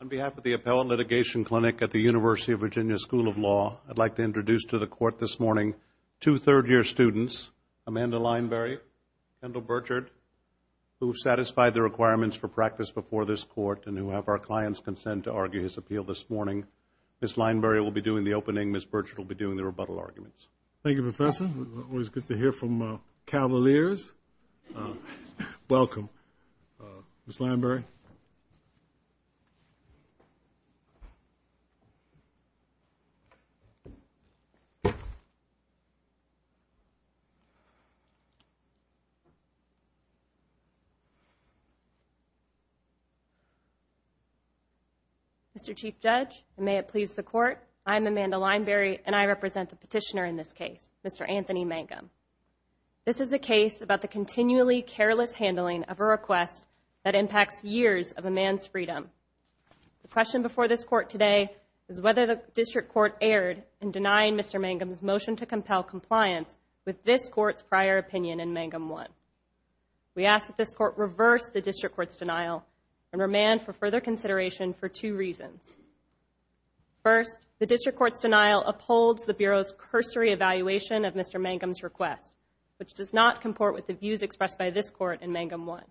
On behalf of the Appellate Litigation Clinic at the University of Virginia School of Law, I'd like to introduce to the court this morning two third-year students, Amanda Lineberry, Kendall Burchard, who have satisfied the requirements for practice before this court and who have our client's consent to argue his appeal this morning. Ms. Lineberry will be doing the opening. Ms. Burchard will be doing the rebuttal arguments. Thank you, Professor. It's always good to hear from cavaliers. Welcome, Ms. Lineberry. Mr. Chief Judge, may it please the court, I'm Amanda Lineberry and I represent the petitioner in this case, Mr. Anthony Mangum. This is a case about the continually careless handling of a request that impacts years of a man's freedom. The question before this court today is whether the district court erred in denying Mr. Mangum's motion to compel compliance with this court's prior opinion in Mangum 1. We ask that this court reverse the district court's denial and remand for further consideration for two reasons. First, the district court's denial upholds the Bureau's cursory evaluation of Mr. Mangum's request, which does not comport with the views expressed by this court in Mangum 1.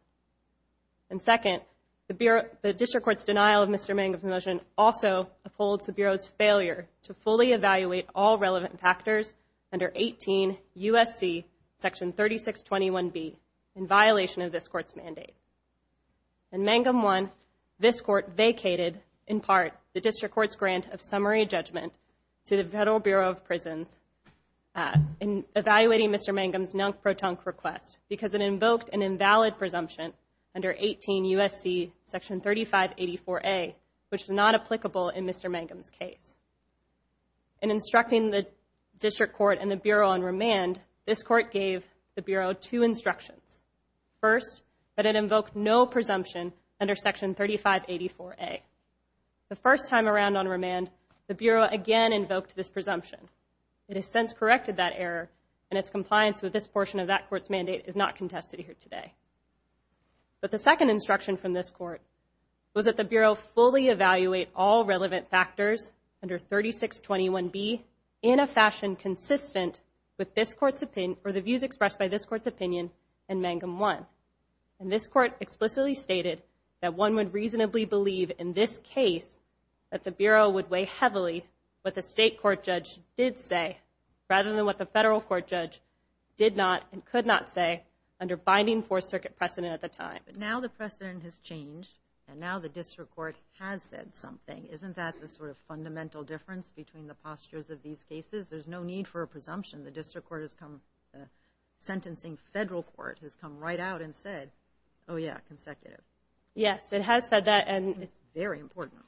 And second, the district court's denial of Mr. Mangum's motion also upholds the Bureau's failure to fully evaluate all relevant factors under 18 U.S.C. section 3621B in violation of this court's mandate. In Mangum 1, this court vacated, in part, the district court's grant of summary judgment to the Federal Bureau of Prisons in evaluating Mr. Mangum's non-protonque request because it invoked an invalid presumption under 18 U.S.C. section 3584A, which is not applicable in Mr. Mangum's case. In instructing the district court and the Bureau on remand, this court gave the Bureau two instructions. First, that it invoked no presumption under section 3584A. The first time around on remand, the Bureau again invoked this presumption. It has since corrected that error, and its compliance with this portion of that court's mandate is not contested here today. But the second instruction from this court was that the Bureau fully evaluate all relevant factors under 3621B in a fashion consistent with this court's opinion or the views expressed by this court's opinion in Mangum 1. And this court explicitly stated that one would reasonably believe in this case that the Bureau would weigh heavily what the state court judge did say, rather than what the federal court judge did not and could not say under binding Fourth Circuit precedent at the time. But now the precedent has changed, and now the district court has said something. Isn't that the sort of fundamental difference between the postures of these cases? There's no need for a presumption. The district court has come, the sentencing federal court has come right out and said, oh yeah, consecutive. Yes, it has said that, and it's very important.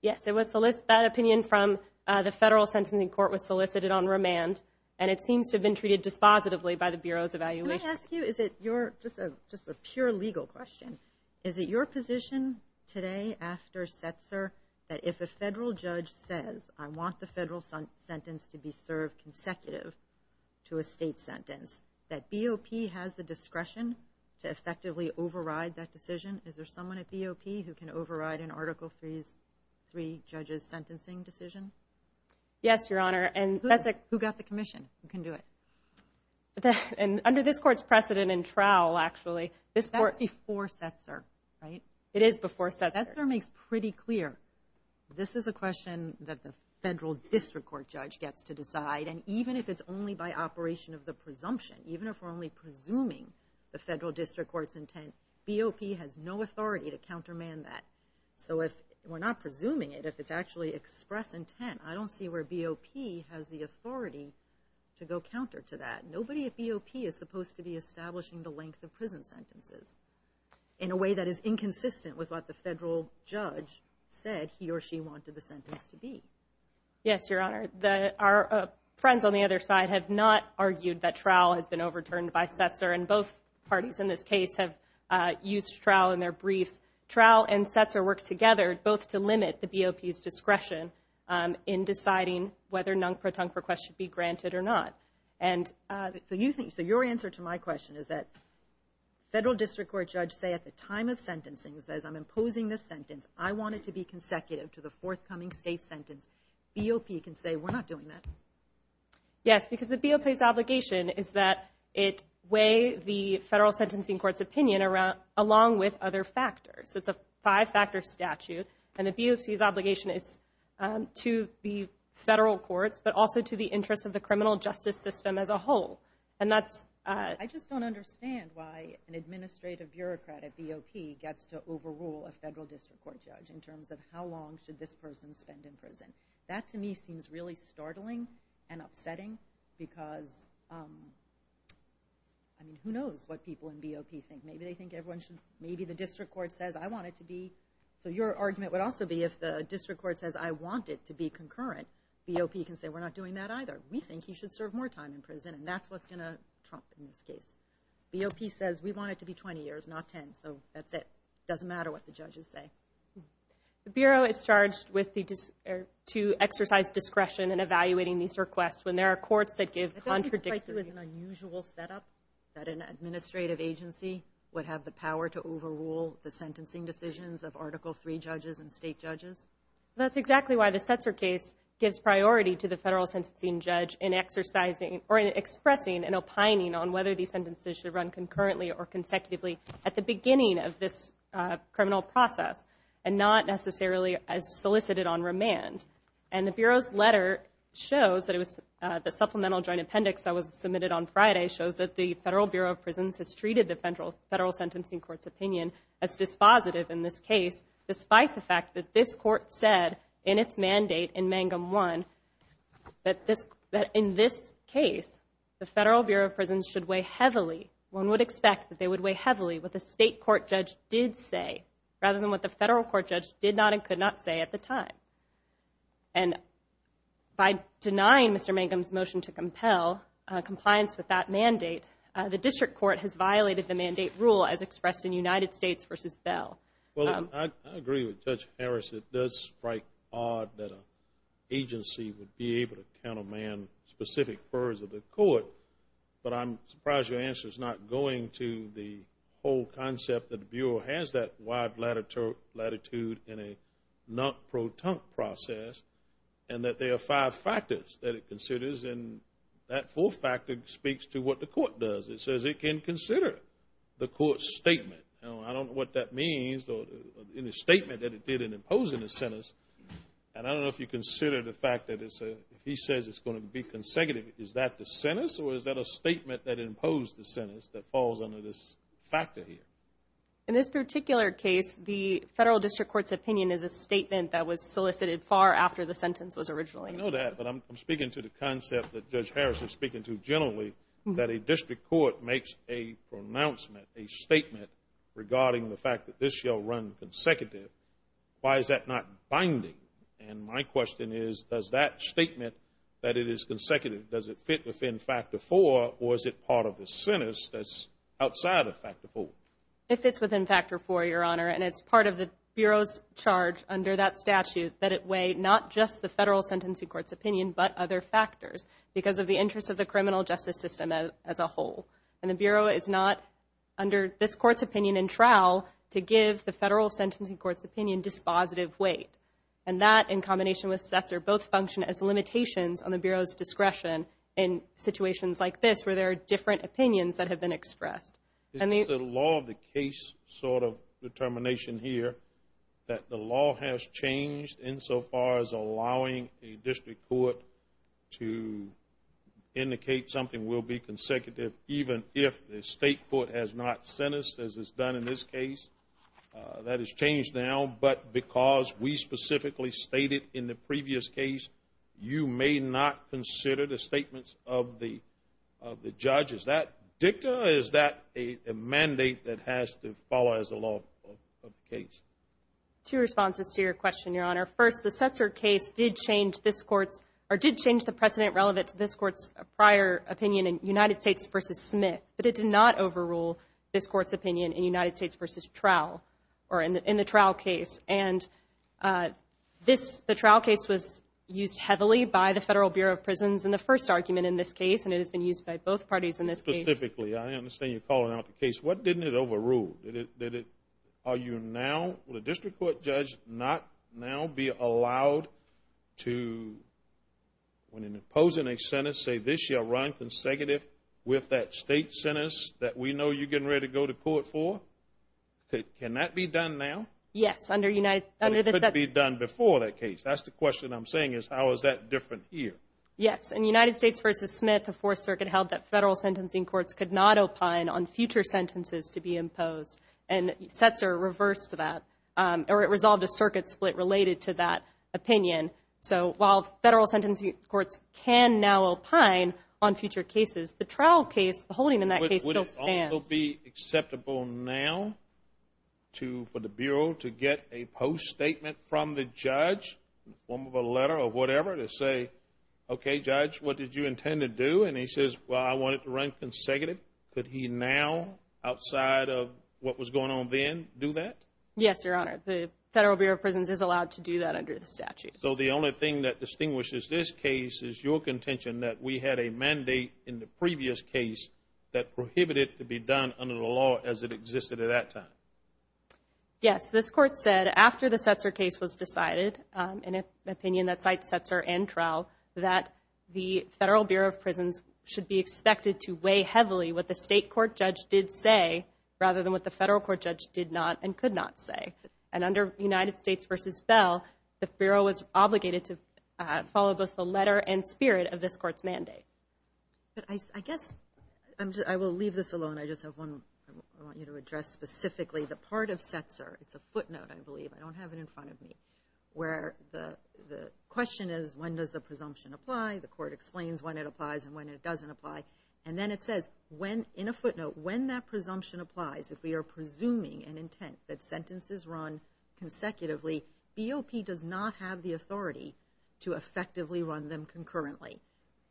Yes, that opinion from the federal sentencing court was solicited on remand, and it seems to have been treated dispositively by the Bureau's evaluation. Can I ask you, is it your, just a pure legal question, is it your position today after Setzer that if a federal judge says, I want the federal sentence to be served consecutive to a state sentence, that BOP has the discretion to effectively override that decision? Is there someone at BOP who can override an Article III judge's sentencing decision? Yes, Your Honor. And that's a- Who got the commission? Who can do it? And under this court's precedent in Trowell, actually, this court- That's before Setzer, right? It is before Setzer. But Setzer makes pretty clear, this is a question that the federal district court judge gets to decide, and even if it's only by operation of the presumption, even if we're only presuming the federal district court's intent, BOP has no authority to countermand that. So if we're not presuming it, if it's actually express intent, I don't see where BOP has the authority to go counter to that. Nobody at BOP is supposed to be establishing the length of prison sentences in a way that the federal judge said he or she wanted the sentence to be. Yes, Your Honor. Our friends on the other side have not argued that Trowell has been overturned by Setzer, and both parties in this case have used Trowell in their briefs. Trowell and Setzer worked together, both to limit the BOP's discretion in deciding whether non-protunct requests should be granted or not. And- So you think, so your answer to my question is that federal district court judge say at the time of sentencing says, I'm imposing this sentence, I want it to be consecutive to the forthcoming state sentence, BOP can say, we're not doing that? Yes, because the BOP's obligation is that it weigh the federal sentencing court's opinion along with other factors. It's a five-factor statute, and the BOP's obligation is to the federal courts, but also to the interests of the criminal justice system as a whole. And that's- I just don't understand why an administrative bureaucrat at BOP gets to overrule a federal district court judge in terms of how long should this person spend in prison. That to me seems really startling and upsetting because, I mean, who knows what people in BOP think. Maybe they think everyone should- Maybe the district court says, I want it to be- So your argument would also be if the district court says, I want it to be concurrent, BOP can say, we're not doing that either. We think he should serve more time in prison, and that's what's going to trump in this case. BOP says, we want it to be 20 years, not 10, so that's it. Doesn't matter what the judges say. The Bureau is charged with the- to exercise discretion in evaluating these requests when there are courts that give contradictory- I think this might be an unusual setup that an administrative agency would have the power to overrule the sentencing decisions of Article III judges and state judges. That's exactly why the Setzer case gives priority to the federal sentencing judge in exercising- or in expressing and opining on whether these sentences should run concurrently or consecutively at the beginning of this criminal process and not necessarily as solicited on remand. And the Bureau's letter shows that it was- the supplemental joint appendix that was submitted on Friday shows that the Federal Bureau of Prisons has treated the federal sentencing court's opinion as dispositive in this case, despite the fact that this court said in its mandate in Mangum I that this- that in this case, the Federal Bureau of Prisons should weigh heavily- one would expect that they would weigh heavily what the state court judge did say rather than what the federal court judge did not and could not say at the time. And by denying Mr. Mangum's motion to compel compliance with that mandate, the district court has violated the mandate rule as expressed in United States v. Bell. Well, I agree with Judge Harris. It does strike odd that an agency would be able to counterman specific purrs of the court, but I'm surprised your answer is not going to the whole concept that the Bureau has that wide latitude in a non-proton process and that there are five factors that it considers and that fourth factor speaks to what the court does. It says it can consider the court's statement. Now, I don't know what that means in the statement that it did in imposing the sentence, and I don't know if you consider the fact that it's a- if he says it's going to be consecutive, is that the sentence or is that a statement that imposed the sentence that falls under this factor here? In this particular case, the federal district court's opinion is a statement that was solicited far after the sentence was originally- I know that, but I'm speaking to the concept that Judge Harris is speaking to generally, that a district court makes a pronouncement, a statement regarding the fact that this shall run consecutive. Why is that not binding? And my question is, does that statement, that it is consecutive, does it fit within factor four or is it part of the sentence that's outside of factor four? It fits within factor four, Your Honor, and it's part of the Bureau's charge under that of the interest of the criminal justice system as a whole, and the Bureau is not, under this court's opinion in trial, to give the federal sentencing court's opinion dispositive weight. And that, in combination with Setzer, both function as limitations on the Bureau's discretion in situations like this, where there are different opinions that have been expressed. Is it a law of the case sort of determination here that the law has changed insofar as allowing a district court to indicate something will be consecutive even if the state court has not sentenced, as it's done in this case? That has changed now, but because we specifically stated in the previous case, you may not consider the statements of the judge. Is that dicta or is that a mandate that has to follow as a law of the case? Two responses to your question, Your Honor. First, the Setzer case did change this court's, or did change the precedent relevant to this court's prior opinion in United States v. Smith, but it did not overrule this court's opinion in United States v. Trowell, or in the Trowell case. And this, the Trowell case was used heavily by the Federal Bureau of Prisons in the first argument in this case, and it has been used by both parties in this case. Specifically, I understand you're calling out the case. What didn't it overrule? Did it, are you now, will a district court judge not now be allowed to, when imposing a sentence, say, this shall run consecutive with that state sentence that we know you're getting ready to go to court for? Can that be done now? Yes, under United States v. Smith. But it couldn't be done before that case. That's the question I'm saying is, how is that different here? Yes, in United States v. Smith, the Fourth Circuit held that Federal sentencing courts could not opine on future sentences to be imposed, and Setzer reversed that, or it resolved a circuit split related to that opinion. So while Federal sentencing courts can now opine on future cases, the Trowell case, the holding in that case still stands. But would it also be acceptable now to, for the Bureau to get a post-statement from the judge, one with a letter or whatever, to say, okay, judge, what did you intend to do? And he says, well, I want it to run consecutive. Could he now, outside of what was going on then, do that? Yes, Your Honor. The Federal Bureau of Prisons is allowed to do that under the statute. So the only thing that distinguishes this case is your contention that we had a mandate in the previous case that prohibited it to be done under the law as it existed at that time. Yes. This Court said, after the Setzer case was decided, in an opinion that cites Setzer and Trowell, that the Federal Bureau of Prisons should be expected to weigh heavily what the State court judge did say, rather than what the Federal court judge did not and could not say. And under United States v. Bell, the Bureau was obligated to follow both the letter and spirit of this Court's mandate. But I guess, I will leave this alone, I just have one, I want you to address specifically the part of Setzer, it's a footnote, I believe, I don't have it in front of me, where the question is, when does the presumption apply? The Court explains when it applies and when it doesn't apply. And then it says, in a footnote, when that presumption applies, if we are presuming an intent that sentences run consecutively, BOP does not have the authority to effectively run them concurrently.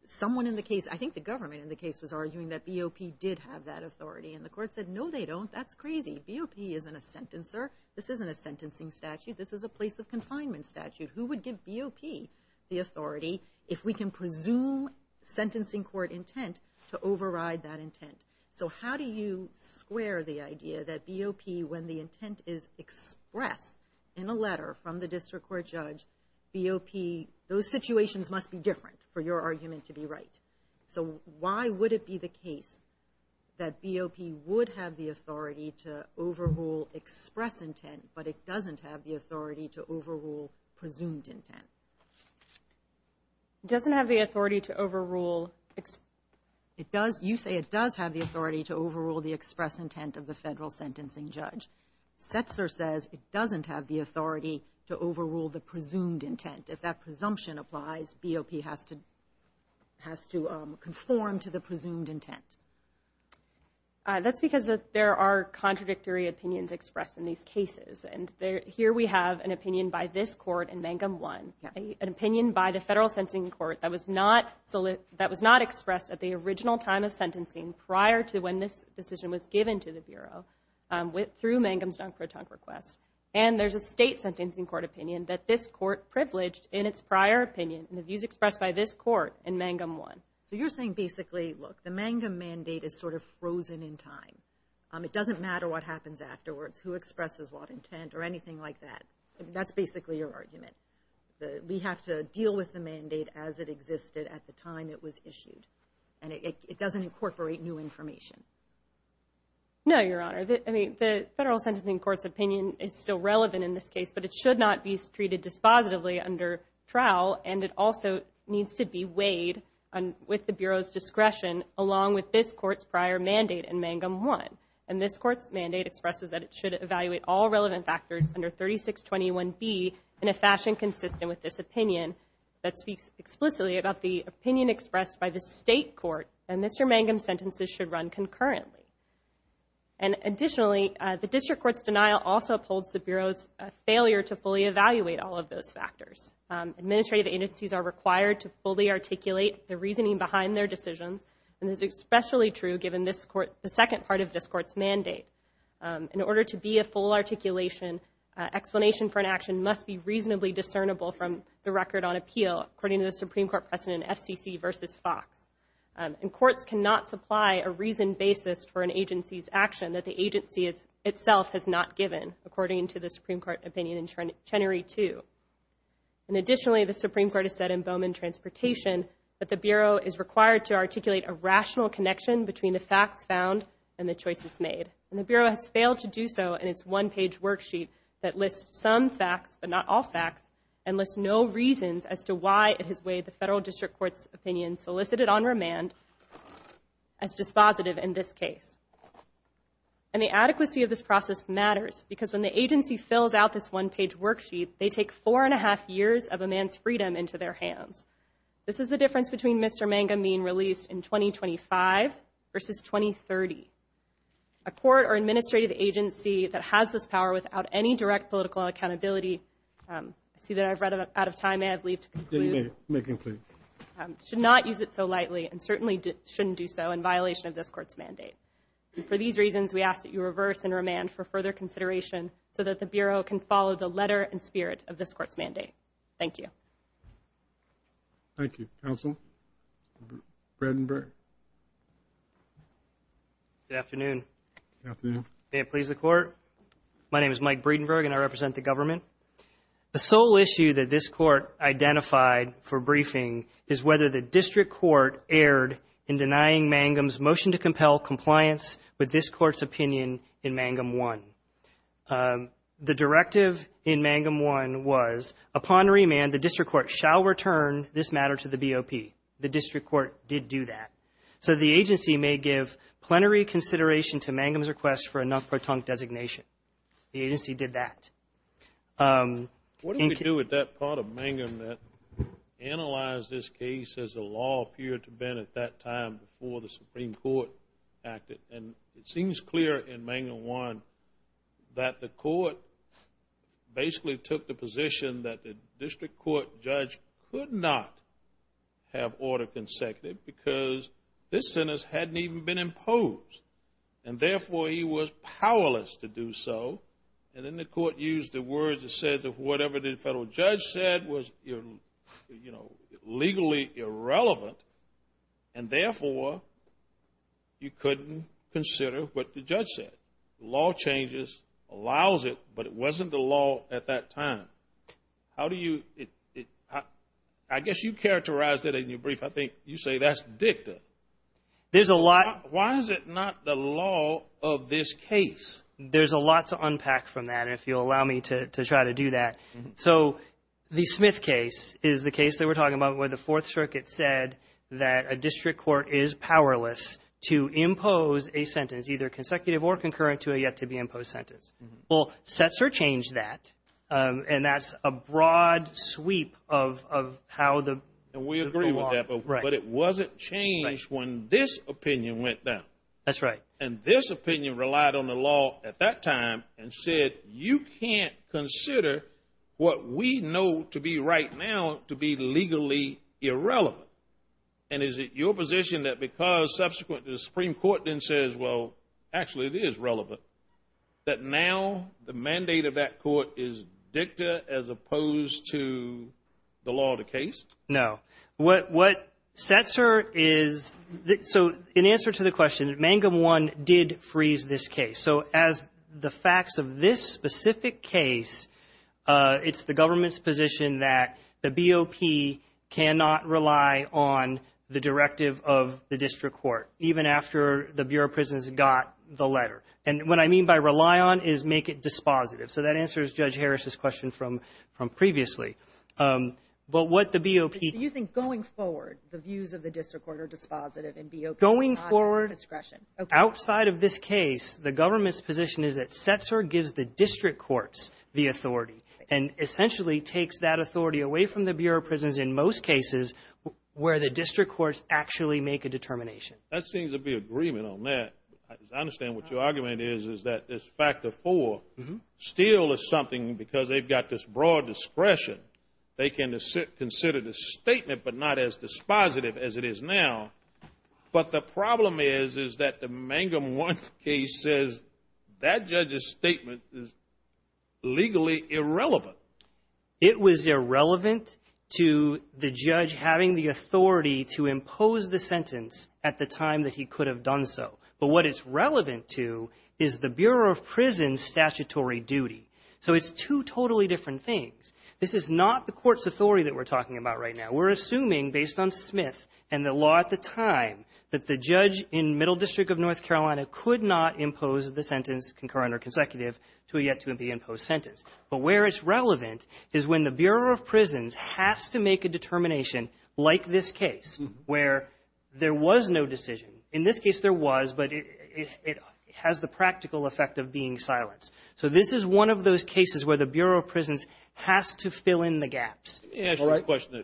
Someone in the case, I think the government in the case was arguing that BOP did have that authority. And the Court said, no they don't, that's crazy. BOP isn't a sentencer, this isn't a sentencing statute, this is a place of confinement statute. Who would give BOP the authority, if we can presume sentencing court intent, to override that intent? So how do you square the idea that BOP, when the intent is expressed in a letter from the district court judge, BOP, those situations must be different for your argument to be right. So why would it be the case that BOP would have the authority to overrule express intent, but it doesn't have the authority to overrule presumed intent? It doesn't have the authority to overrule... You say it does have the authority to overrule the express intent of the federal sentencing judge. Setzer says it doesn't have the authority to overrule the presumed intent. If that presumption applies, BOP has to conform to the presumed intent. That's because there are contradictory opinions expressed in these cases. Here we have an opinion by this court in Mangum 1, an opinion by the federal sentencing court that was not expressed at the original time of sentencing, prior to when this decision was given to the Bureau, through Mangum's Dunk-for-Tunk request. And there's a state sentencing court opinion that this court privileged in its prior opinion, and the views expressed by this court in Mangum 1. So you're saying basically, look, the Mangum mandate is sort of frozen in time. It doesn't matter what happens afterwards, who expresses what intent, or anything like that. That's basically your argument. We have to deal with the mandate as it existed at the time it was issued. And it doesn't incorporate new information. No, Your Honor. The federal sentencing court's opinion is still relevant in this case, but it should not be treated dispositively under trial. And it also needs to be weighed with the Bureau's discretion, along with this court's prior mandate in Mangum 1. And this court's mandate expresses that it should evaluate all relevant factors under 3621B in a fashion consistent with this opinion that speaks explicitly about the opinion expressed by the state court, and Mr. Mangum's sentences should run concurrently. And additionally, the district court's denial also upholds the Bureau's failure to fully evaluate all of those factors. Administrative agencies are required to fully articulate the reasoning behind their decisions, and this is especially true given the second part of this court's mandate. In order to be a full articulation, explanation for an action must be reasonably discernible from the record on appeal, according to the Supreme Court precedent FCC v. Fox. And courts cannot supply a reasoned basis for an agency's action that the agency itself has not given, according to the Supreme Court opinion in Chenery 2. And additionally, the Supreme Court has said in Bowman Transportation that the Bureau is required to articulate a rational connection between the facts found and the choices made. And the Bureau has failed to do so in its one-page worksheet that lists some facts, but not all facts, and lists no reasons as to why it has weighed the federal district court's opinion solicited on remand as dispositive in this case. And the adequacy of this process matters, because when the agency fills out this one-page worksheet, they take four and a half years of a man's freedom into their hands. This is the difference between Mr. Mangum being released in 2025 versus 2030. A court or administrative agency that has this power without any direct political accountability I see that I've run out of time, and I'd leave to conclude, should not use it so lightly, and certainly shouldn't do so in violation of this court's mandate. And for these reasons, we ask that you reverse and remand for further consideration, so that the Bureau can follow the letter and spirit of this court's mandate. Thank you. Thank you. Counsel? Breedenburg? Good afternoon. Good afternoon. May it please the Court, my name is Mike Breedenburg, and I represent the government. The sole issue that this court identified for briefing is whether the district court erred in denying Mangum's motion to compel compliance with this court's opinion in Mangum 1. The directive in Mangum 1 was, upon remand, the district court shall return this matter to the BOP. The district court did do that. So the agency may give plenary consideration to Mangum's request for a non-protonic designation. The agency did that. Thank you. What do we do with that part of Mangum that analyzed this case as the law appeared to have been at that time before the Supreme Court acted? And it seems clear in Mangum 1 that the court basically took the position that the district court judge could not have order consecutive, because this sentence hadn't even been imposed, and therefore he was powerless to do so, and then the court used the words that said whatever the federal judge said was, you know, legally irrelevant, and therefore you couldn't consider what the judge said. Law changes allows it, but it wasn't the law at that time. How do you, I guess you characterized it in your brief, I think you say that's dicta. There's a lot. Why is it not the law of this case? There's a lot to unpack from that, if you'll allow me to try to do that. So the Smith case is the case that we're talking about where the Fourth Circuit said that a district court is powerless to impose a sentence, either consecutive or concurrent, to a yet-to-be-imposed sentence. Well, Setzer changed that, and that's a broad sweep of how the law... We agree with that. Right. But it wasn't changed when this opinion went down. That's right. And this opinion relied on the law at that time and said, you can't consider what we know to be right now to be legally irrelevant. And is it your position that because subsequently the Supreme Court then says, well, actually it is relevant, that now the mandate of that court is dicta as opposed to the law of the case? No. What Setzer is... So in answer to the question, Mangum 1 did freeze this case. So as the facts of this specific case, it's the government's position that the BOP cannot rely on the directive of the district court, even after the Bureau of Prisons got the letter. And what I mean by rely on is make it dispositive. So that answers Judge Harris's question from previously. But what the BOP... So you think going forward, the views of the district court are dispositive and BOP is not a discretion? Going forward, outside of this case, the government's position is that Setzer gives the district courts the authority and essentially takes that authority away from the Bureau of Prisons in most cases where the district courts actually make a determination. That seems to be agreement on that. I understand what your argument is, is that this factor 4 still is something because they've got this broad discretion. They can consider the statement but not as dispositive as it is now. But the problem is, is that the Mangum 1 case says that judge's statement is legally irrelevant. It was irrelevant to the judge having the authority to impose the sentence at the time that he could have done so. But what it's relevant to is the Bureau of Prisons statutory duty. So it's two totally different things. This is not the court's authority that we're talking about right now. We're assuming, based on Smith and the law at the time, that the judge in Middle District of North Carolina could not impose the sentence, concurrent or consecutive, to a yet-to-be-imposed sentence. But where it's relevant is when the Bureau of Prisons has to make a determination like this case where there was no decision. In this case, there was, but it has the practical effect of being silenced. So this is one of those cases where the Bureau of Prisons has to fill in the gaps. Let me ask you a question.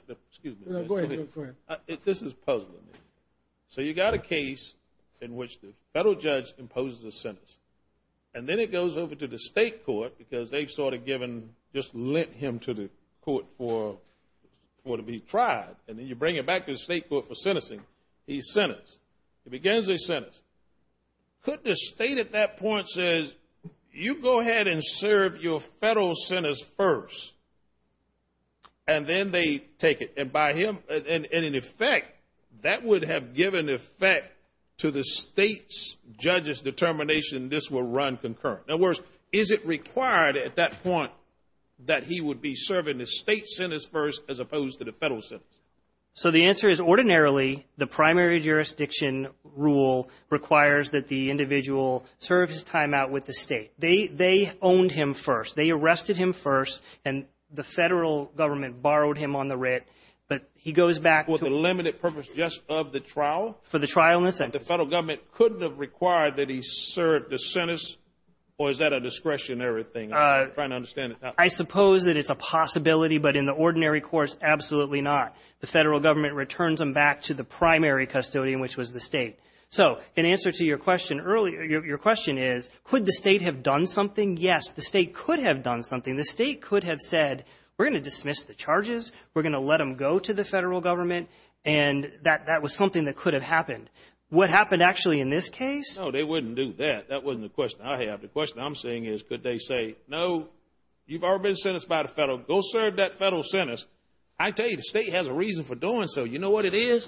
This is puzzling. So you've got a case in which the federal judge imposes a sentence. And then it goes over to the state court because they've sort of given, just lent him to the court for him to be tried. And then you bring him back to the state court for sentencing. He's sentenced. He begins his sentence. Could the state at that point say, you go ahead and serve your federal sentence first, and then they take it? And by him, in effect, that would have given effect to the state's judge's determination this will run concurrent. In other words, is it required at that point that he would be serving the state sentence first as opposed to the federal sentence? So the answer is, ordinarily, the primary jurisdiction rule requires that the individual serve his time out with the state. They owned him first. They arrested him first, and the federal government borrowed him on the writ. But he goes back to- For the limited purpose just of the trial? For the trial and the sentence. The federal government couldn't have required that he serve the sentence? Or is that a discretionary thing? I'm trying to understand it now. I suppose that it's a possibility, but in the ordinary course, absolutely not. The federal government returns him back to the primary custodian, which was the state. So in answer to your question earlier, your question is, could the state have done something? Yes, the state could have done something. The state could have said, we're going to dismiss the charges. We're going to let them go to the federal government, and that was something that could have happened. What happened actually in this case? No, they wouldn't do that. That wasn't the question I have. The question I'm saying is, could they say, no, you've already been sentenced by the federal. Go serve that federal sentence. I tell you, the state has a reason for doing so. You know what it is?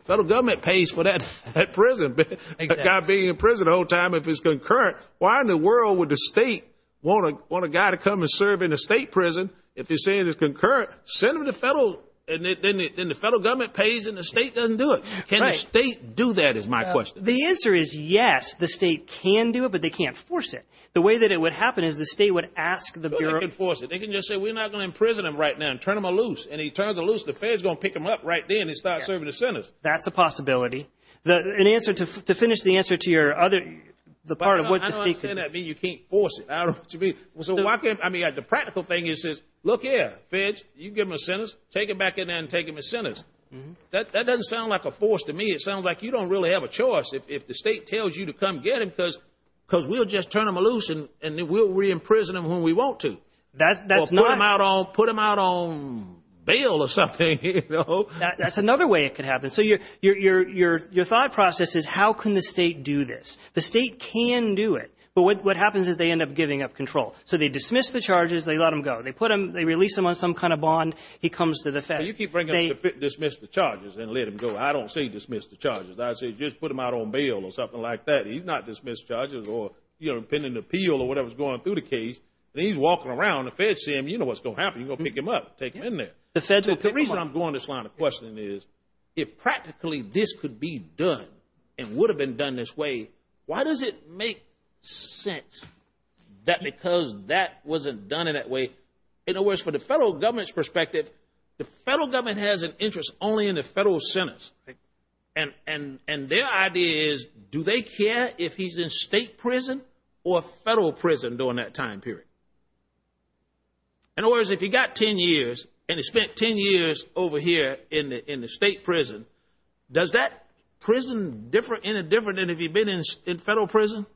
The federal government pays for that prison. A guy being in prison the whole time, if it's concurrent, why in the world would the state want a guy to come and serve in a state prison if he's saying it's concurrent? Send him to federal, and then the federal government pays, and the state doesn't do it. Can the state do that is my question. The answer is yes. The state can do it, but they can't force it. The way that it would happen is the state would ask the bureau. They can force it. They can just say, we're not going to imprison him right now, and turn him a loose, and he turns a loose. The feds are going to pick him up right then and start serving his sentence. That's a possibility. To finish the answer to your other, the part of what the state could do. I don't understand that being you can't force it. The practical thing is, look here, feds, you give him a sentence, take him back in there and take him to sentence. That doesn't sound like a force to me. It sounds like you don't really have a choice if the state tells you to come get him, because we'll just turn him a loose, and we'll re-imprison him when we want to. That's not. Or put him out on bail or something. That's another way it could happen. So your thought process is how can the state do this? The state can do it, but what happens is they end up giving up control. So they dismiss the charges. They let him go. They put him, they release him on some kind of bond. He comes to the feds. You keep bringing up dismiss the charges and let him go. I don't say dismiss the charges. I say just put him out on bail or something like that. He's not dismissed charges or pending appeal or whatever's going through the case. And he's walking around. The feds see him. You know what's going to happen. You're going to pick him up, take him in there. The reason I'm going this line of questioning is, if practically this could be done and would have been done this way, why does it make sense that because that wasn't done in that way? In other words, from the federal government's perspective, the federal government has an federal sentence. And their idea is, do they care if he's in state prison or federal prison during that time period? In other words, if he got 10 years and he spent 10 years over here in the state prison, does that prison differ in a different than if he'd been in federal prison?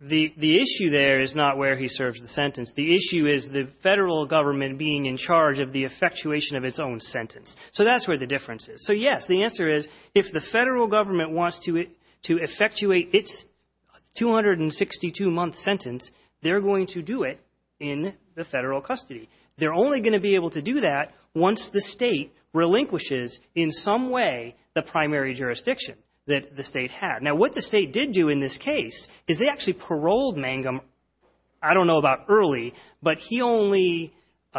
The issue there is not where he serves the sentence. The issue is the federal government being in charge of the effectuation of its own sentence. So that's where the difference is. So yes, the answer is, if the federal government wants to effectuate its 262-month sentence, they're going to do it in the federal custody. They're only going to be able to do that once the state relinquishes in some way the primary jurisdiction that the state had. Now, what the state did do in this case is they actually paroled Mangum, I don't know about early, but he only,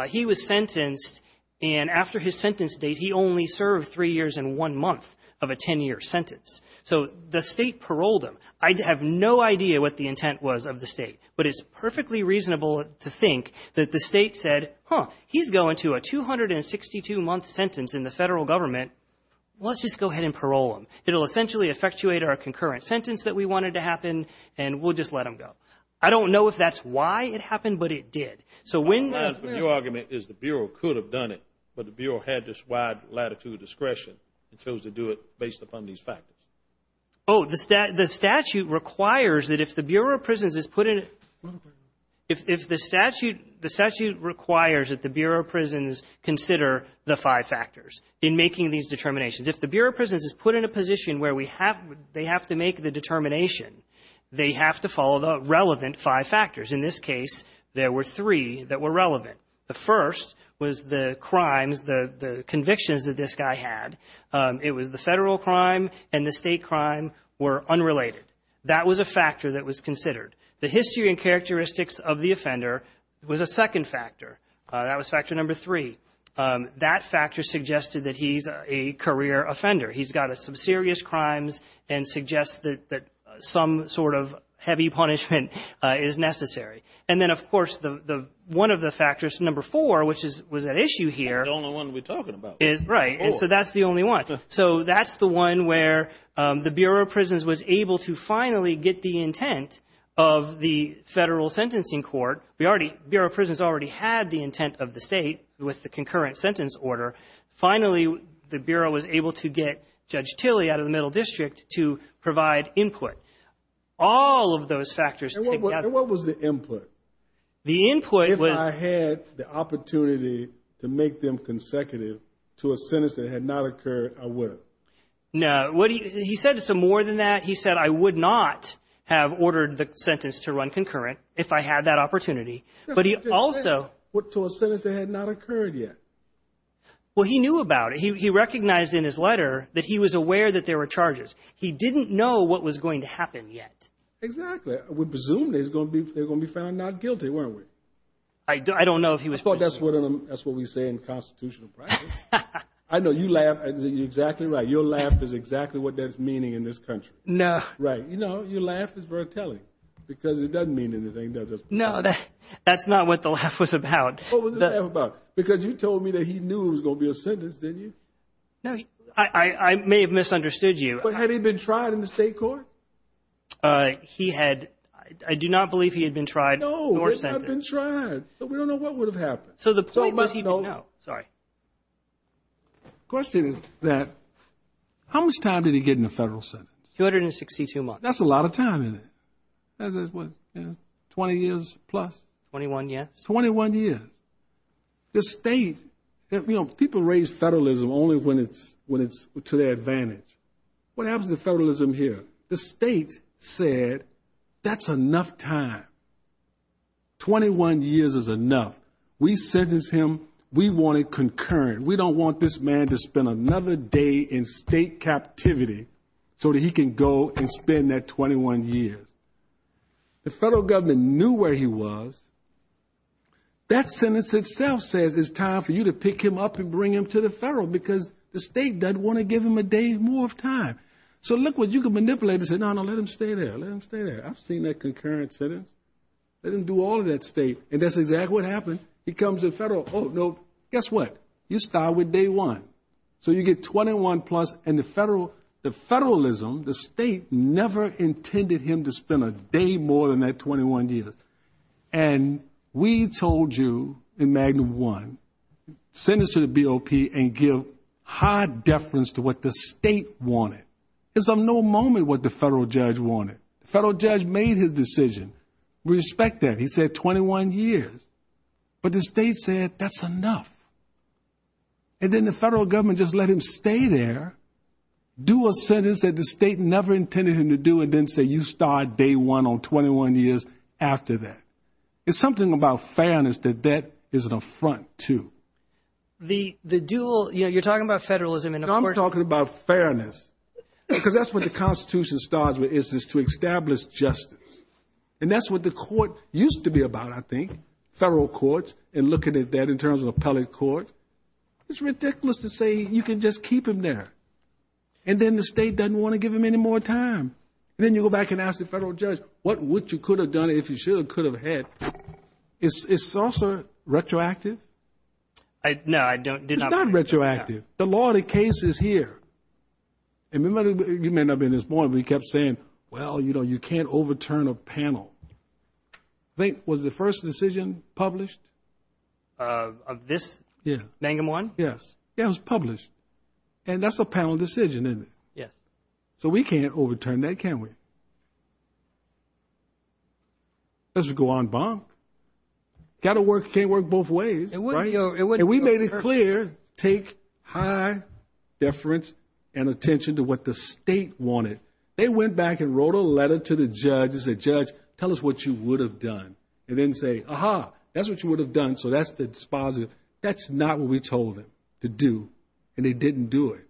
he was sentenced, and after his sentence date, he only served three years and one month of a 10-year sentence. So the state paroled him. I have no idea what the intent was of the state, but it's perfectly reasonable to think that the state said, huh, he's going to a 262-month sentence in the federal government. Let's just go ahead and parole him. It'll essentially effectuate our concurrent sentence that we wanted to happen, and we'll just let him go. I don't know if that's why it happened, but it did. So when the ---- Your argument is the Bureau could have done it, but the Bureau had this wide latitude of discretion and chose to do it based upon these factors. Oh, the statute requires that if the Bureau of Prisons is put in a ---- If the statute requires that the Bureau of Prisons consider the five factors in making these determinations. If the Bureau of Prisons is put in a position where we have, they have to make the determination, they have to follow the relevant five factors. In this case, there were three that were relevant. The first was the crimes, the convictions that this guy had. It was the federal crime and the state crime were unrelated. That was a factor that was considered. The history and characteristics of the offender was a second factor. That was factor number three. That factor suggested that he's a career offender. He's got some serious crimes and suggests that some sort of heavy punishment is necessary. And then, of course, one of the factors, number four, which was at issue here ---- The only one we're talking about. Right. And so that's the only one. So that's the one where the Bureau of Prisons was able to finally get the intent of the federal sentencing court. Bureau of Prisons already had the intent of the state with the concurrent sentence order. Finally, the Bureau was able to get Judge Tilley out of the Middle District to provide input. All of those factors together. And what was the input? The input was ---- If I had the opportunity to make them consecutive to a sentence that had not occurred, I would have. No. He said some more than that. He said, I would not have ordered the sentence to run concurrent if I had that opportunity. But he also ---- Well, he knew about it. He recognized in his letter that he was aware that there were charges. He didn't know what was going to happen yet. Exactly. We presumed they were going to be found not guilty, weren't we? I don't know if he was. I thought that's what we say in constitutional practice. I know you laugh. You're exactly right. Your laugh is exactly what that's meaning in this country. No. Right. You know, your laugh is worth telling because it doesn't mean anything, does it? No, that's not what the laugh was about. What was the laugh about? Because you told me that he knew it was going to be a sentence, didn't you? No. I may have misunderstood you. But had he been tried in the state court? He had ---- I do not believe he had been tried nor sentenced. No, he had not been tried. So we don't know what would have happened. So the point was he ---- No. Sorry. The question is that how much time did he get in the federal sentence? 262 months. That's a lot of time, isn't it? That's what, you know, 20 years plus. 21, yes. 21 years. The state, you know, people raise federalism only when it's to their advantage. What happens to federalism here? The state said that's enough time. 21 years is enough. We sentenced him. We want it concurrent. We don't want this man to spend another day in state captivity so that he can go and spend that 21 years. The federal government knew where he was. That sentence itself says it's time for you to pick him up and bring him to the federal because the state doesn't want to give him a day more of time. So look what you can manipulate and say, no, no, let him stay there. Let him stay there. I've seen that concurrent sentence. Let him do all of that state. And that's exactly what happened. He comes in federal. Oh, no. Guess what? You start with day one. So you get 21 plus and the federalism, the state never intended him to spend a day more than that 21 years. And we told you in Magnum One, send this to the BOP and give high deference to what the state wanted. It's of no moment what the federal judge wanted. The federal judge made his decision. We respect that. He said 21 years. But the state said that's enough. And then the federal government just let him stay there, do a sentence that the state never intended him to do, and then say you start day one on 21 years after that. It's something about fairness that that is an affront, too. You're talking about federalism. I'm talking about fairness because that's what the Constitution starts with is to establish justice. And that's what the court used to be about, I think, federal courts, and looking at that in terms of appellate courts. It's ridiculous to say you can just keep him there. And then the state doesn't want to give him any more time. And then you go back and ask the federal judge, what would you could have done if you should have, could have had. It's also retroactive. No, I did not. It's not retroactive. The law of the case is here. And remember, you may not have been at this point, but he kept saying, well, you know, you can't overturn a panel. I think, was the first decision published? Of this? Yeah. Magnum One? Yes. Yeah, it was published. And that's a panel decision, isn't it? Yes. So we can't overturn that, can we? Let's go on, Bob. Got to work, can't work both ways. And we made it clear, take high deference and attention to what the state wanted. They went back and wrote a letter to the judge and said, judge, tell us what you would have done. And then say, aha, that's what you would have done. So that's the dispositive. That's not what we told them to do, and they didn't do it.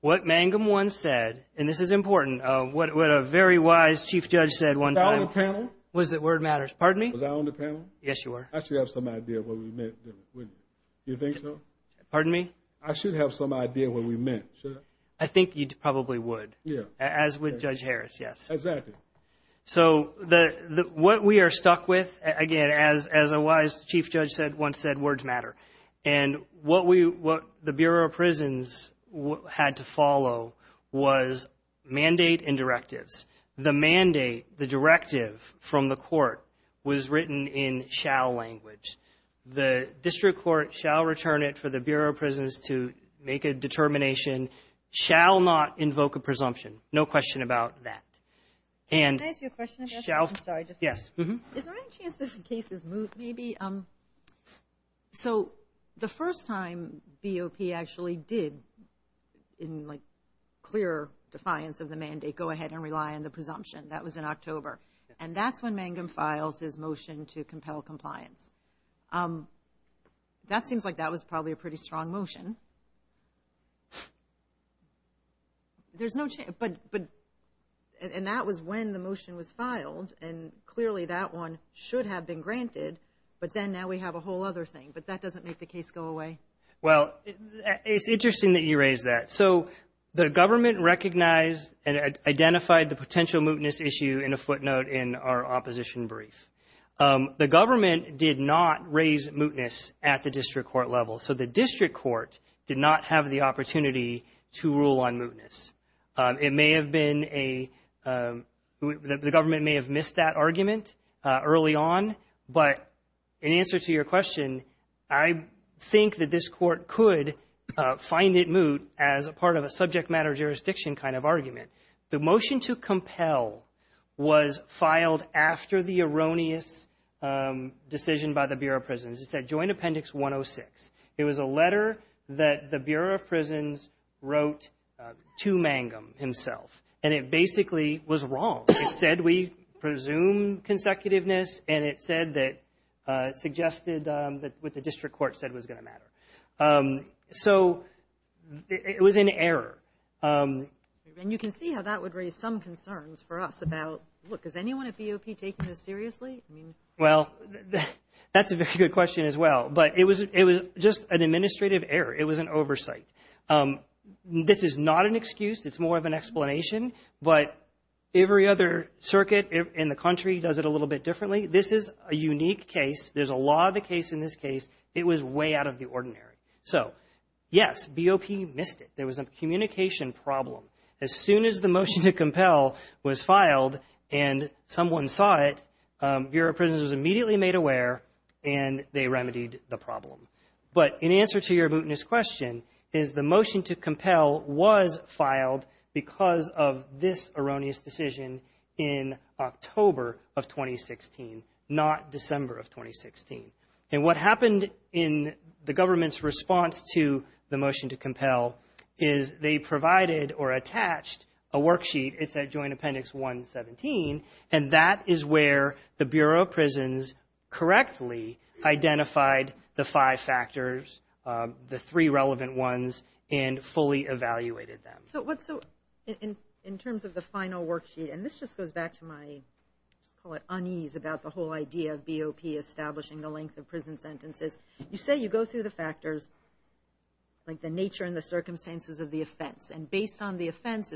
What Magnum One said, and this is important, what a very wise chief judge said one time. Was I on the panel? Was it Word Matters? Pardon me? Was I on the panel? Yes, you were. I should have some idea of what we meant, wouldn't I? Do you think so? Pardon me? I should have some idea of what we meant, should I? I think you probably would. Yeah. As would Judge Harris, yes. Exactly. So what we are stuck with, again, as a wise chief judge once said, words matter. And what the Bureau of Prisons had to follow was mandate and directives. The mandate, the directive from the court was written in shall language. The district court shall return it for the Bureau of Prisons to make a determination, shall not invoke a presumption. No question about that. Can I ask you a question? Yes. Is there any chance this case is moved maybe? So the first time BOP actually did, in like clear defiance of the mandate, go ahead and rely on the presumption, that was in October. And that's when Magnum files his motion to compel compliance. That seems like that was probably a pretty strong motion. And that was when the motion was filed. And clearly that one should have been granted. But then now we have a whole other thing. But that doesn't make the case go away. Well, it's interesting that you raise that. So the government recognized and identified the potential mootness issue in a footnote in our opposition brief. The government did not raise mootness at the district court level. So the district court did not have the opportunity to rule on mootness. It may have been a – the government may have missed that argument early on. But in answer to your question, I think that this court could find it moot as a part of a subject matter jurisdiction kind of argument. The motion to compel was filed after the erroneous decision by the Bureau of Prisons. It said Joint Appendix 106. It was a letter that the Bureau of Prisons wrote to Magnum himself. And it basically was wrong. It said we presume consecutiveness, and it said that – suggested what the district court said was going to matter. So it was an error. And you can see how that would raise some concerns for us about, look, is anyone at BOP taking this seriously? Well, that's a very good question as well. But it was just an administrative error. It was an oversight. This is not an excuse. It's more of an explanation. But every other circuit in the country does it a little bit differently. This is a unique case. There's a lot of the case in this case. It was way out of the ordinary. So, yes, BOP missed it. There was a communication problem. As soon as the motion to compel was filed and someone saw it, Bureau of Prisons was immediately made aware, and they remedied the problem. But in answer to your bootiness question is the motion to compel was filed because of this erroneous decision in October of 2016, not December of 2016. And what happened in the government's response to the motion to compel is they provided or attached a worksheet, it's at Joint Appendix 117, and that is where the Bureau of Prisons correctly identified the five factors, the three relevant ones, and fully evaluated them. So in terms of the final worksheet, and this just goes back to my, I call it unease about the whole idea of BOP establishing the length of prison sentences, you say you go through the factors, like the nature and the circumstances of the offense, and based on the offense,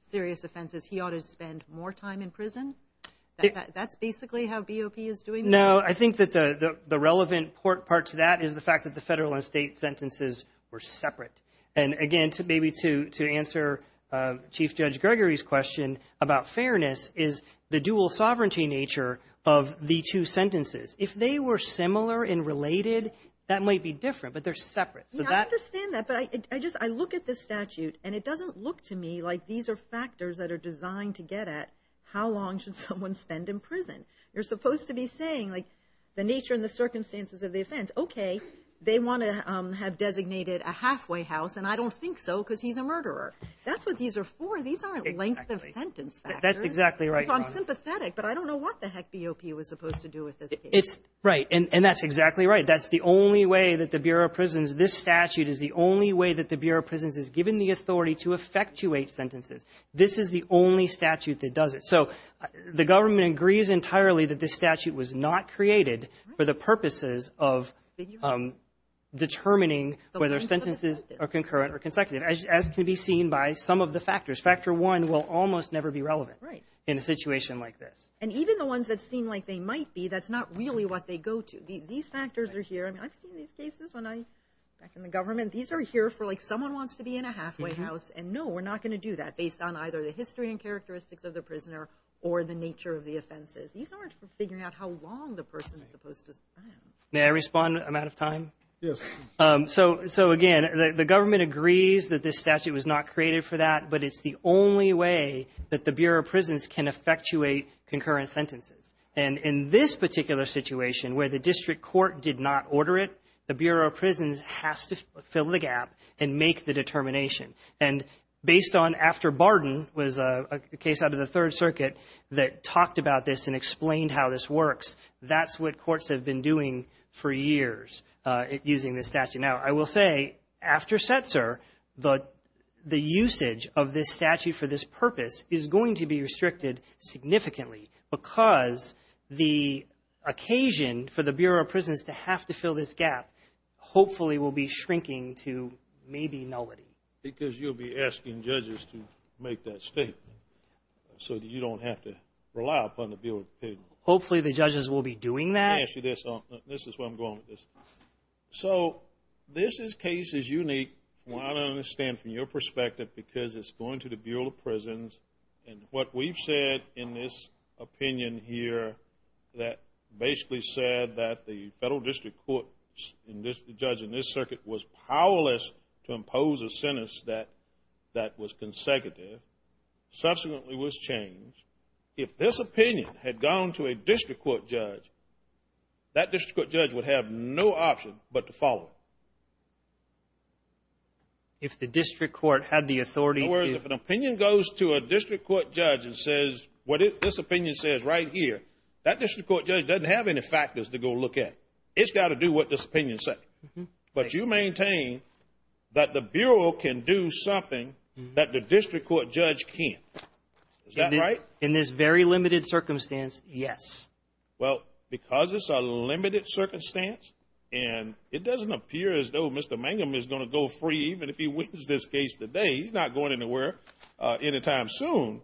serious offenses, he ought to spend more time in prison? That's basically how BOP is doing this? No, I think that the relevant part to that is the fact that the federal and state sentences were separate. And, again, maybe to answer Chief Judge Gregory's question about fairness is the dual sovereignty nature of the two sentences. If they were similar and related, that might be different, but they're separate. Yeah, I understand that, but I just, I look at this statute, and it doesn't look to me like these are factors that are designed to get at how long should someone spend in prison. You're supposed to be saying, like, the nature and the circumstances of the offense. Okay, they want to have designated a halfway house, and I don't think so because he's a murderer. That's what these are for. These aren't length of sentence factors. That's exactly right, Your Honor. So I'm sympathetic, but I don't know what the heck BOP was supposed to do with this case. Right, and that's exactly right. That's the only way that the Bureau of Prisons, this statute is the only way that the Bureau of Prisons is given the authority to effectuate sentences. This is the only statute that does it. So the government agrees entirely that this statute was not created for the purposes of determining whether sentences are concurrent or consecutive, as can be seen by some of the factors. Factor one will almost never be relevant in a situation like this. And even the ones that seem like they might be, that's not really what they go to. These factors are here. I mean, I've seen these cases back in the government. These are here for, like, someone wants to be in a halfway house, and no, we're not going to do that based on either the history and characteristics of the prisoner or the nature of the offenses. These aren't for figuring out how long the person is supposed to spend. May I respond? I'm out of time. Yes. So, again, the government agrees that this statute was not created for that, but it's the only way that the Bureau of Prisons can effectuate concurrent sentences. And in this particular situation where the district court did not order it, the Bureau of Prisons has to fill the gap and make the determination. And based on after Barden was a case out of the Third Circuit that talked about this and explained how this works, that's what courts have been doing for years using this statute. Now, I will say, after Setzer, the usage of this statute for this purpose is going to be restricted significantly because the occasion for the Bureau of Prisons to have to fill this gap hopefully will be shrinking to maybe nullity. Because you'll be asking judges to make that statement so that you don't have to rely upon the Bureau of Prisons. Hopefully the judges will be doing that. Let me ask you this. This is where I'm going with this. So this case is unique, I understand, from your perspective because it's going to the Bureau of Prisons. And what we've said in this opinion here that basically said that the federal district court, the judge in this circuit, was powerless to impose a sentence that was consecutive, subsequently was changed. If this opinion had gone to a district court judge, that district court judge would have no option but to follow it. If the district court had the authority to? In other words, if an opinion goes to a district court judge and says what this opinion says right here, that district court judge doesn't have any factors to go look at. It's got to do what this opinion says. But you maintain that the Bureau can do something that the district court judge can't. Is that right? In this very limited circumstance, yes. Well, because it's a limited circumstance and it doesn't appear as though Mr. Mangum is going to go free even if he wins this case today. He's not going anywhere anytime soon.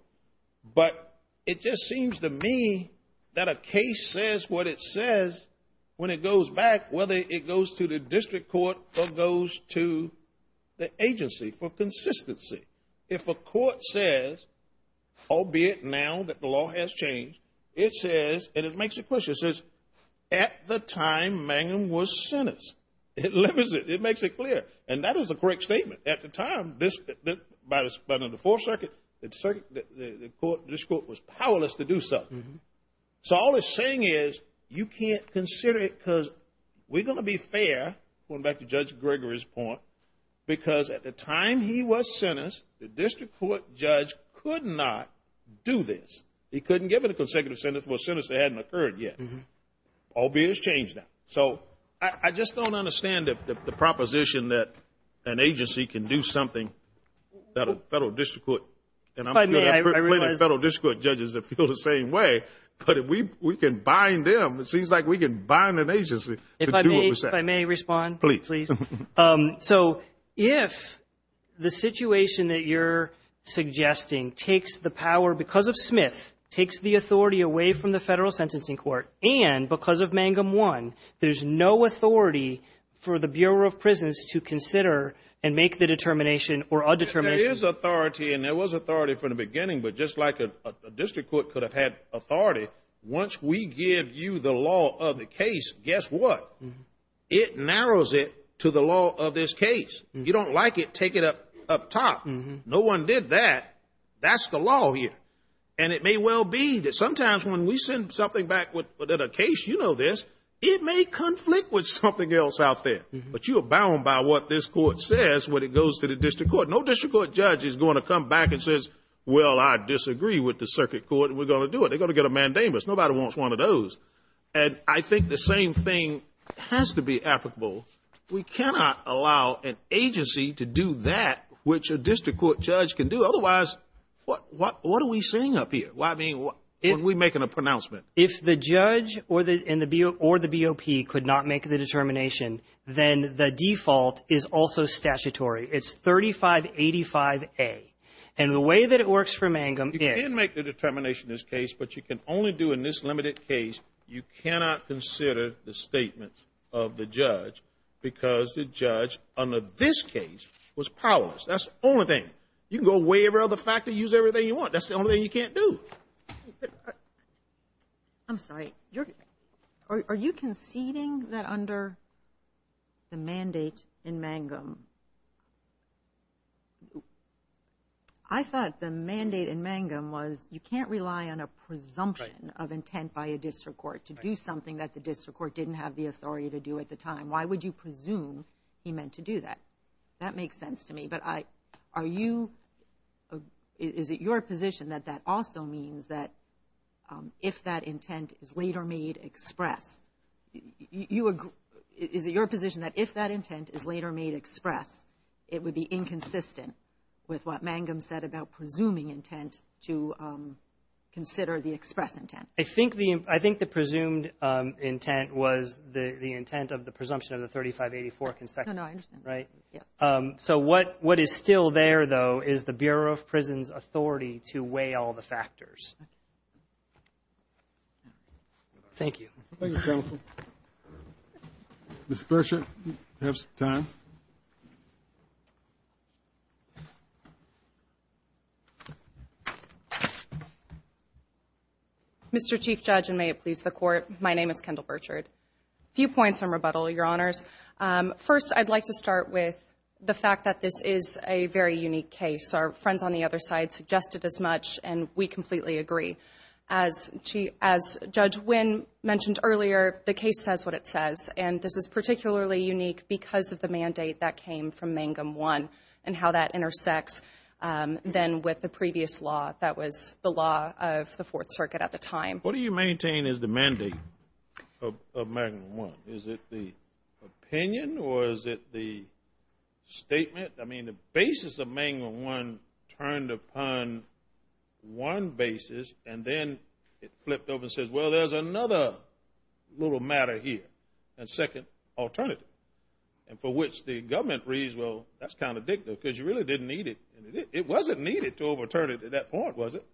But it just seems to me that a case says what it says when it goes back, whether it goes to the district court or goes to the agency for consistency. If a court says, albeit now that the law has changed, it says, and it makes it clear, it says, at the time Mangum was sentenced. It limits it. It makes it clear. And that is a correct statement. At the time, by the Fourth Circuit, the court was powerless to do something. So all it's saying is you can't consider it because we're going to be fair, going back to Judge Gregory's point, because at the time he was sentenced, the district court judge could not do this. He couldn't give it a consecutive sentence. Well, sentence hadn't occurred yet. Albeit it's changed now. So I just don't understand the proposition that an agency can do something that a federal district court, and I'm sure there are plenty of federal district court judges that feel the same way, but if we can bind them, it seems like we can bind an agency to do what we say. If I may respond? Please. So if the situation that you're suggesting takes the power because of Smith, takes the authority away from the federal sentencing court, and because of Mangum 1, there's no authority for the Bureau of Prisons to consider and make the determination or undetermination? There is authority, and there was authority from the beginning. But just like a district court could have had authority, once we give you the law of the case, guess what? It narrows it to the law of this case. You don't like it, take it up top. No one did that. That's the law here. And it may well be that sometimes when we send something back with a case, you know this, it may conflict with something else out there. But you're bound by what this court says when it goes to the district court. No district court judge is going to come back and say, well, I disagree with the circuit court, and we're going to do it. They're going to get a mandamus. Nobody wants one of those. And I think the same thing has to be applicable. We cannot allow an agency to do that which a district court judge can do. Otherwise, what are we seeing up here? Why are we making a pronouncement? If the judge or the BOP could not make the determination, then the default is also statutory. It's 3585A. And the way that it works for Mangum is you can make the determination in this case, but you can only do it in this limited case. You cannot consider the statements of the judge because the judge under this case was powerless. That's the only thing. You can go away every other factor, use everything you want. That's the only thing you can't do. I'm sorry. Are you conceding that under the mandate in Mangum? I thought the mandate in Mangum was you can't rely on a presumption of intent by a district court to do something that the district court didn't have the authority to do at the time. Why would you presume he meant to do that? That makes sense to me. But is it your position that that also means that if that intent is later made express? Is it your position that if that intent is later made express, it would be inconsistent with what Mangum said about presuming intent to consider the express intent? I think the presumed intent was the intent of the presumption of the 3584. No, no, I understand. Right? Yes. So what is still there, though, is the Bureau of Prisons' authority to weigh all the factors. Thank you. Thank you, counsel. Ms. Berger, do you have some time? Mr. Chief Judge, and may it please the Court, my name is Kendall Berger. A few points in rebuttal, Your Honors. First, I'd like to start with the fact that this is a very unique case. Our friends on the other side suggested as much, and we completely agree. As Judge Wynn mentioned earlier, the case says what it says, and this is particularly unique because of the mandate that came from Mangum I and how that intersects then with the previous law that was the law of the Fourth Circuit at the time. What do you maintain is the mandate of Mangum I? Is it the opinion or is it the statement? I mean, the basis of Mangum I turned upon one basis, and then it flipped over and says, well, there's another little matter here, a second alternative, and for which the government reads, well, that's counterdictive because you really didn't need it. It wasn't needed to overturn it at that point, was it?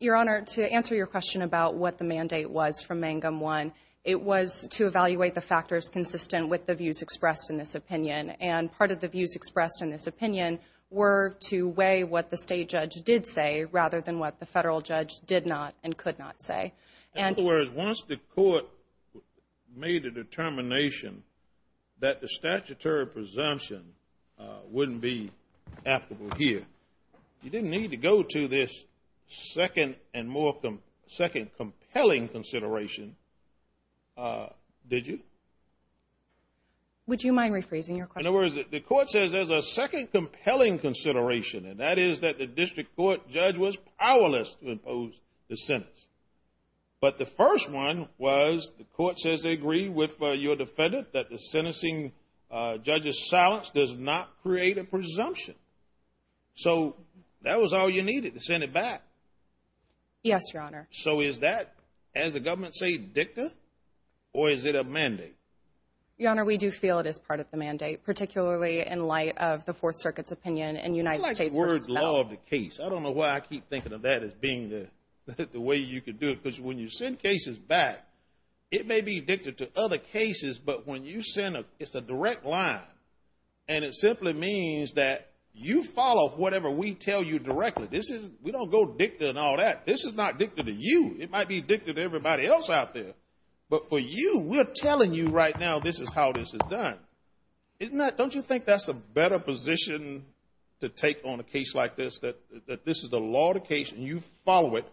Your Honor, to answer your question about what the mandate was from Mangum I, it was to evaluate the factors consistent with the views expressed in this opinion, and part of the views expressed in this opinion were to weigh what the state judge did say rather than what the federal judge did not and could not say. In other words, once the court made a determination that the statutory presumption wouldn't be applicable here, you didn't need to go to this second and more compelling consideration, did you? Would you mind rephrasing your question? In other words, the court says there's a second compelling consideration, and that is that the district court judge was powerless to impose the sentence. But the first one was the court says they agree with your defendant that the sentencing judge's silence does not create a presumption. So that was all you needed to send it back? Yes, Your Honor. So is that, as the government say, dicta, or is it a mandate? Your Honor, we do feel it is part of the mandate, particularly in light of the Fourth Circuit's opinion in United States v. Bell. I don't like the word law of the case. I don't know why I keep thinking of that as being the way you could do it, because when you send cases back, it may be dicta to other cases, but when you send a direct line, and it simply means that you follow whatever we tell you directly. We don't go dicta and all that. This is not dicta to you. It might be dicta to everybody else out there. But for you, we're telling you right now this is how this is done. Don't you think that's a better position to take on a case like this, that this is the law of the case, and you follow it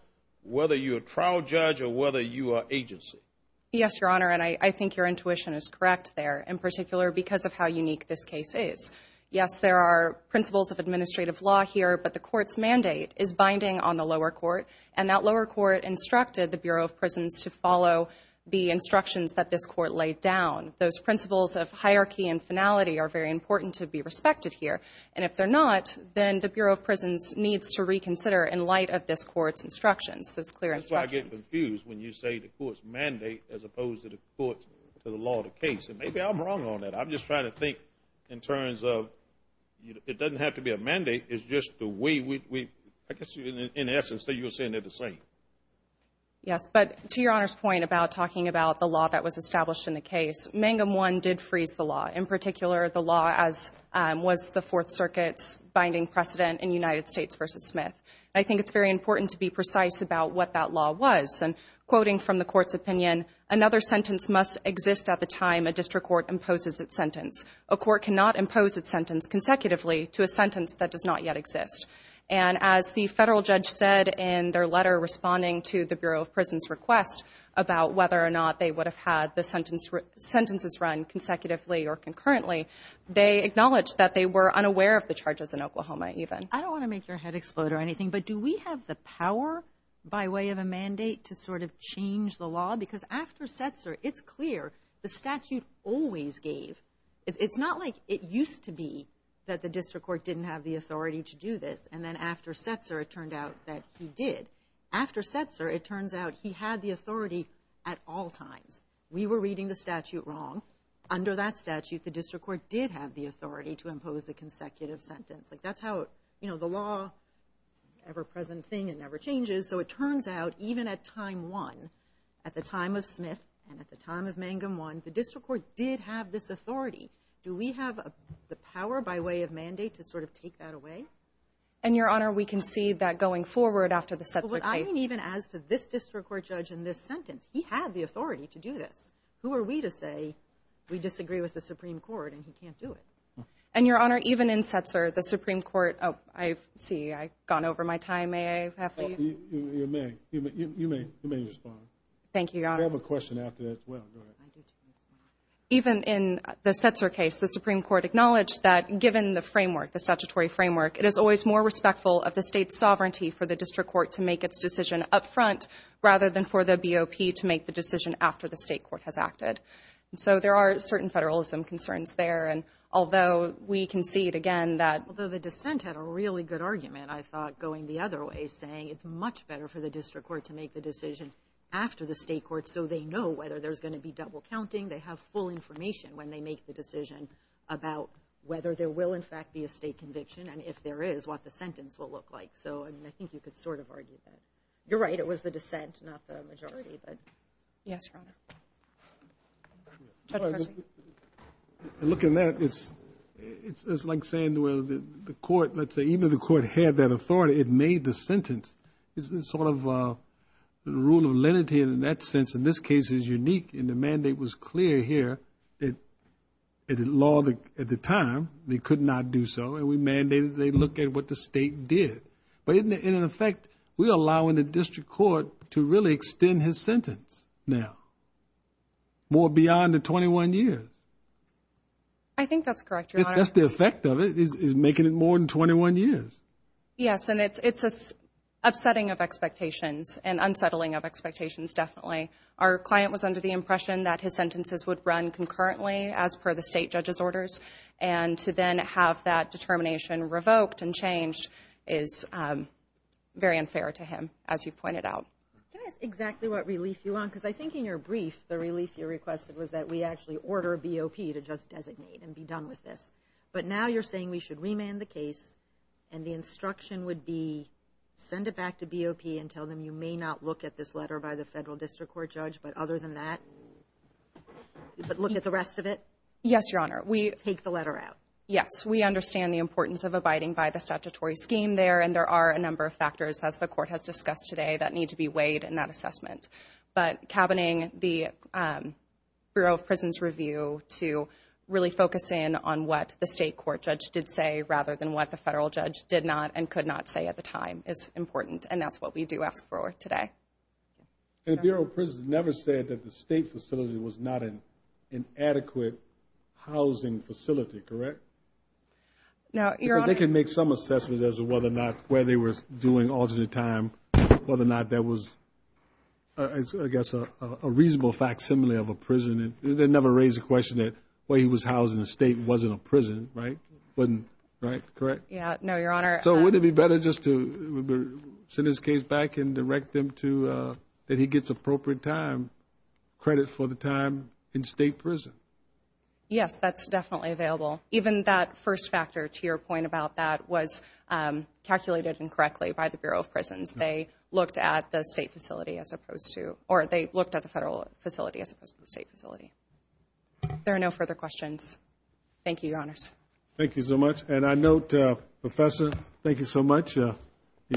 whether you're a trial judge or whether you are agency? Yes, Your Honor, and I think your intuition is correct there, in particular because of how unique this case is. Yes, there are principles of administrative law here, but the court's mandate is binding on the lower court, and that lower court instructed the Bureau of Prisons to follow the instructions that this court laid down. Those principles of hierarchy and finality are very important to be respected here, and if they're not, then the Bureau of Prisons needs to reconsider in light of this court's instructions, those clear instructions. That's why I get confused when you say the court's mandate as opposed to the court's law of the case, and maybe I'm wrong on that. I'm just trying to think in terms of it doesn't have to be a mandate. It's just the way we – I guess in essence you're saying they're the same. Yes, but to Your Honor's point about talking about the law that was established in the case, Mangum I did freeze the law, in particular the law as was the Fourth Circuit's binding precedent in United States v. Smith. I think it's very important to be precise about what that law was. And quoting from the court's opinion, another sentence must exist at the time a district court imposes its sentence. A court cannot impose its sentence consecutively to a sentence that does not yet exist. And as the federal judge said in their letter responding to the Bureau of Prisons' request about whether or not they would have had the sentences run consecutively or concurrently, they acknowledged that they were unaware of the charges in Oklahoma even. I don't want to make your head explode or anything, but do we have the power by way of a mandate to sort of change the law? Because after Setzer, it's clear the statute always gave. It's not like it used to be that the district court didn't have the authority to do this, and then after Setzer it turned out that he did. After Setzer, it turns out he had the authority at all times. We were reading the statute wrong. Under that statute, the district court did have the authority to impose the consecutive sentence. Like, that's how, you know, the law is an ever-present thing. It never changes. So it turns out even at time one, at the time of Smith and at the time of Mangum I, the district court did have this authority. Do we have the power by way of mandate to sort of take that away? And, Your Honor, we can see that going forward after the Setzer case. Well, what I mean even as to this district court judge in this sentence, he had the authority to do this. Who are we to say we disagree with the Supreme Court and he can't do it? And, Your Honor, even in Setzer, the Supreme Court, oh, I see I've gone over my time. May I? You may. You may respond. Thank you, Your Honor. We have a question after that as well. Go ahead. Even in the Setzer case, the Supreme Court acknowledged that given the framework, the statutory framework, it is always more respectful of the state's sovereignty for the district court to make its decision up front rather than for the BOP to make the decision after the state court has acted. So there are certain federalism concerns there, and although we concede again that Although the dissent had a really good argument, I thought going the other way, saying it's much better for the district court to make the decision after the state court so they know whether there's going to be double counting. They have full information when they make the decision about whether there will, in fact, be a state conviction and if there is, what the sentence will look like. So, I mean, I think you could sort of argue that. You're right. It was the dissent, not the majority. But, yes, Your Honor. Judge Percy. Looking at it, it's like saying the court, let's say, even if the court had that authority, it made the sentence. It's sort of the rule of lenity in that sense. In this case, it's unique, and the mandate was clear here. The law at the time, they could not do so, and we mandated they look at what the state did. But, in effect, we're allowing the district court to really extend his sentence now, more beyond the 21 years. I think that's correct, Your Honor. That's the effect of it, is making it more than 21 years. Yes, and it's upsetting of expectations and unsettling of expectations, definitely. Our client was under the impression that his sentences would run concurrently, as per the state judge's orders, and to then have that determination revoked and changed is very unfair to him, as you've pointed out. Can I ask exactly what relief you want? Because I think in your brief, the relief you requested was that we actually order BOP to just designate and be done with this. But now you're saying we should remand the case, and the instruction would be, send it back to BOP and tell them you may not look at this letter by the federal district court judge, but other than that, look at the rest of it? Yes, Your Honor. Take the letter out. Yes, we understand the importance of abiding by the statutory scheme there, and there are a number of factors, as the court has discussed today, that need to be weighed in that assessment. But cabining the Bureau of Prisons review to really focus in on what the state court judge did say, rather than what the federal judge did not and could not say at the time, is important, and that's what we do ask for today. And the Bureau of Prisons never said that the state facility was not an adequate housing facility, correct? No, Your Honor. Because they can make some assessments as to whether or not where they were doing alternate time, whether or not that was, I guess, a reasonable facsimile of a prison. They never raised the question that where he was housed in the state wasn't a prison, right? Right, correct? No, Your Honor. So wouldn't it be better just to send his case back and direct him to, that he gets appropriate time, credit for the time in state prison? Yes, that's definitely available. Even that first factor, to your point about that, was calculated incorrectly by the Bureau of Prisons. They looked at the state facility as opposed to, or they looked at the federal facility as opposed to the state facility. There are no further questions. Thank you, Your Honors. Thank you so much. And I note, Professor, thank you so much. Your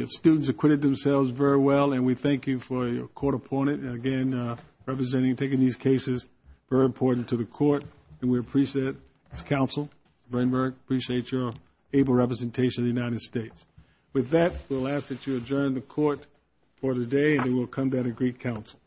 students acquitted themselves very well, and we thank you for your court appointment. And, again, representing and taking these cases is very important to the court, and we appreciate it. As counsel, I very much appreciate your able representation of the United States. With that, we'll ask that you adjourn the court for the day, and then we'll come to that agreed counsel.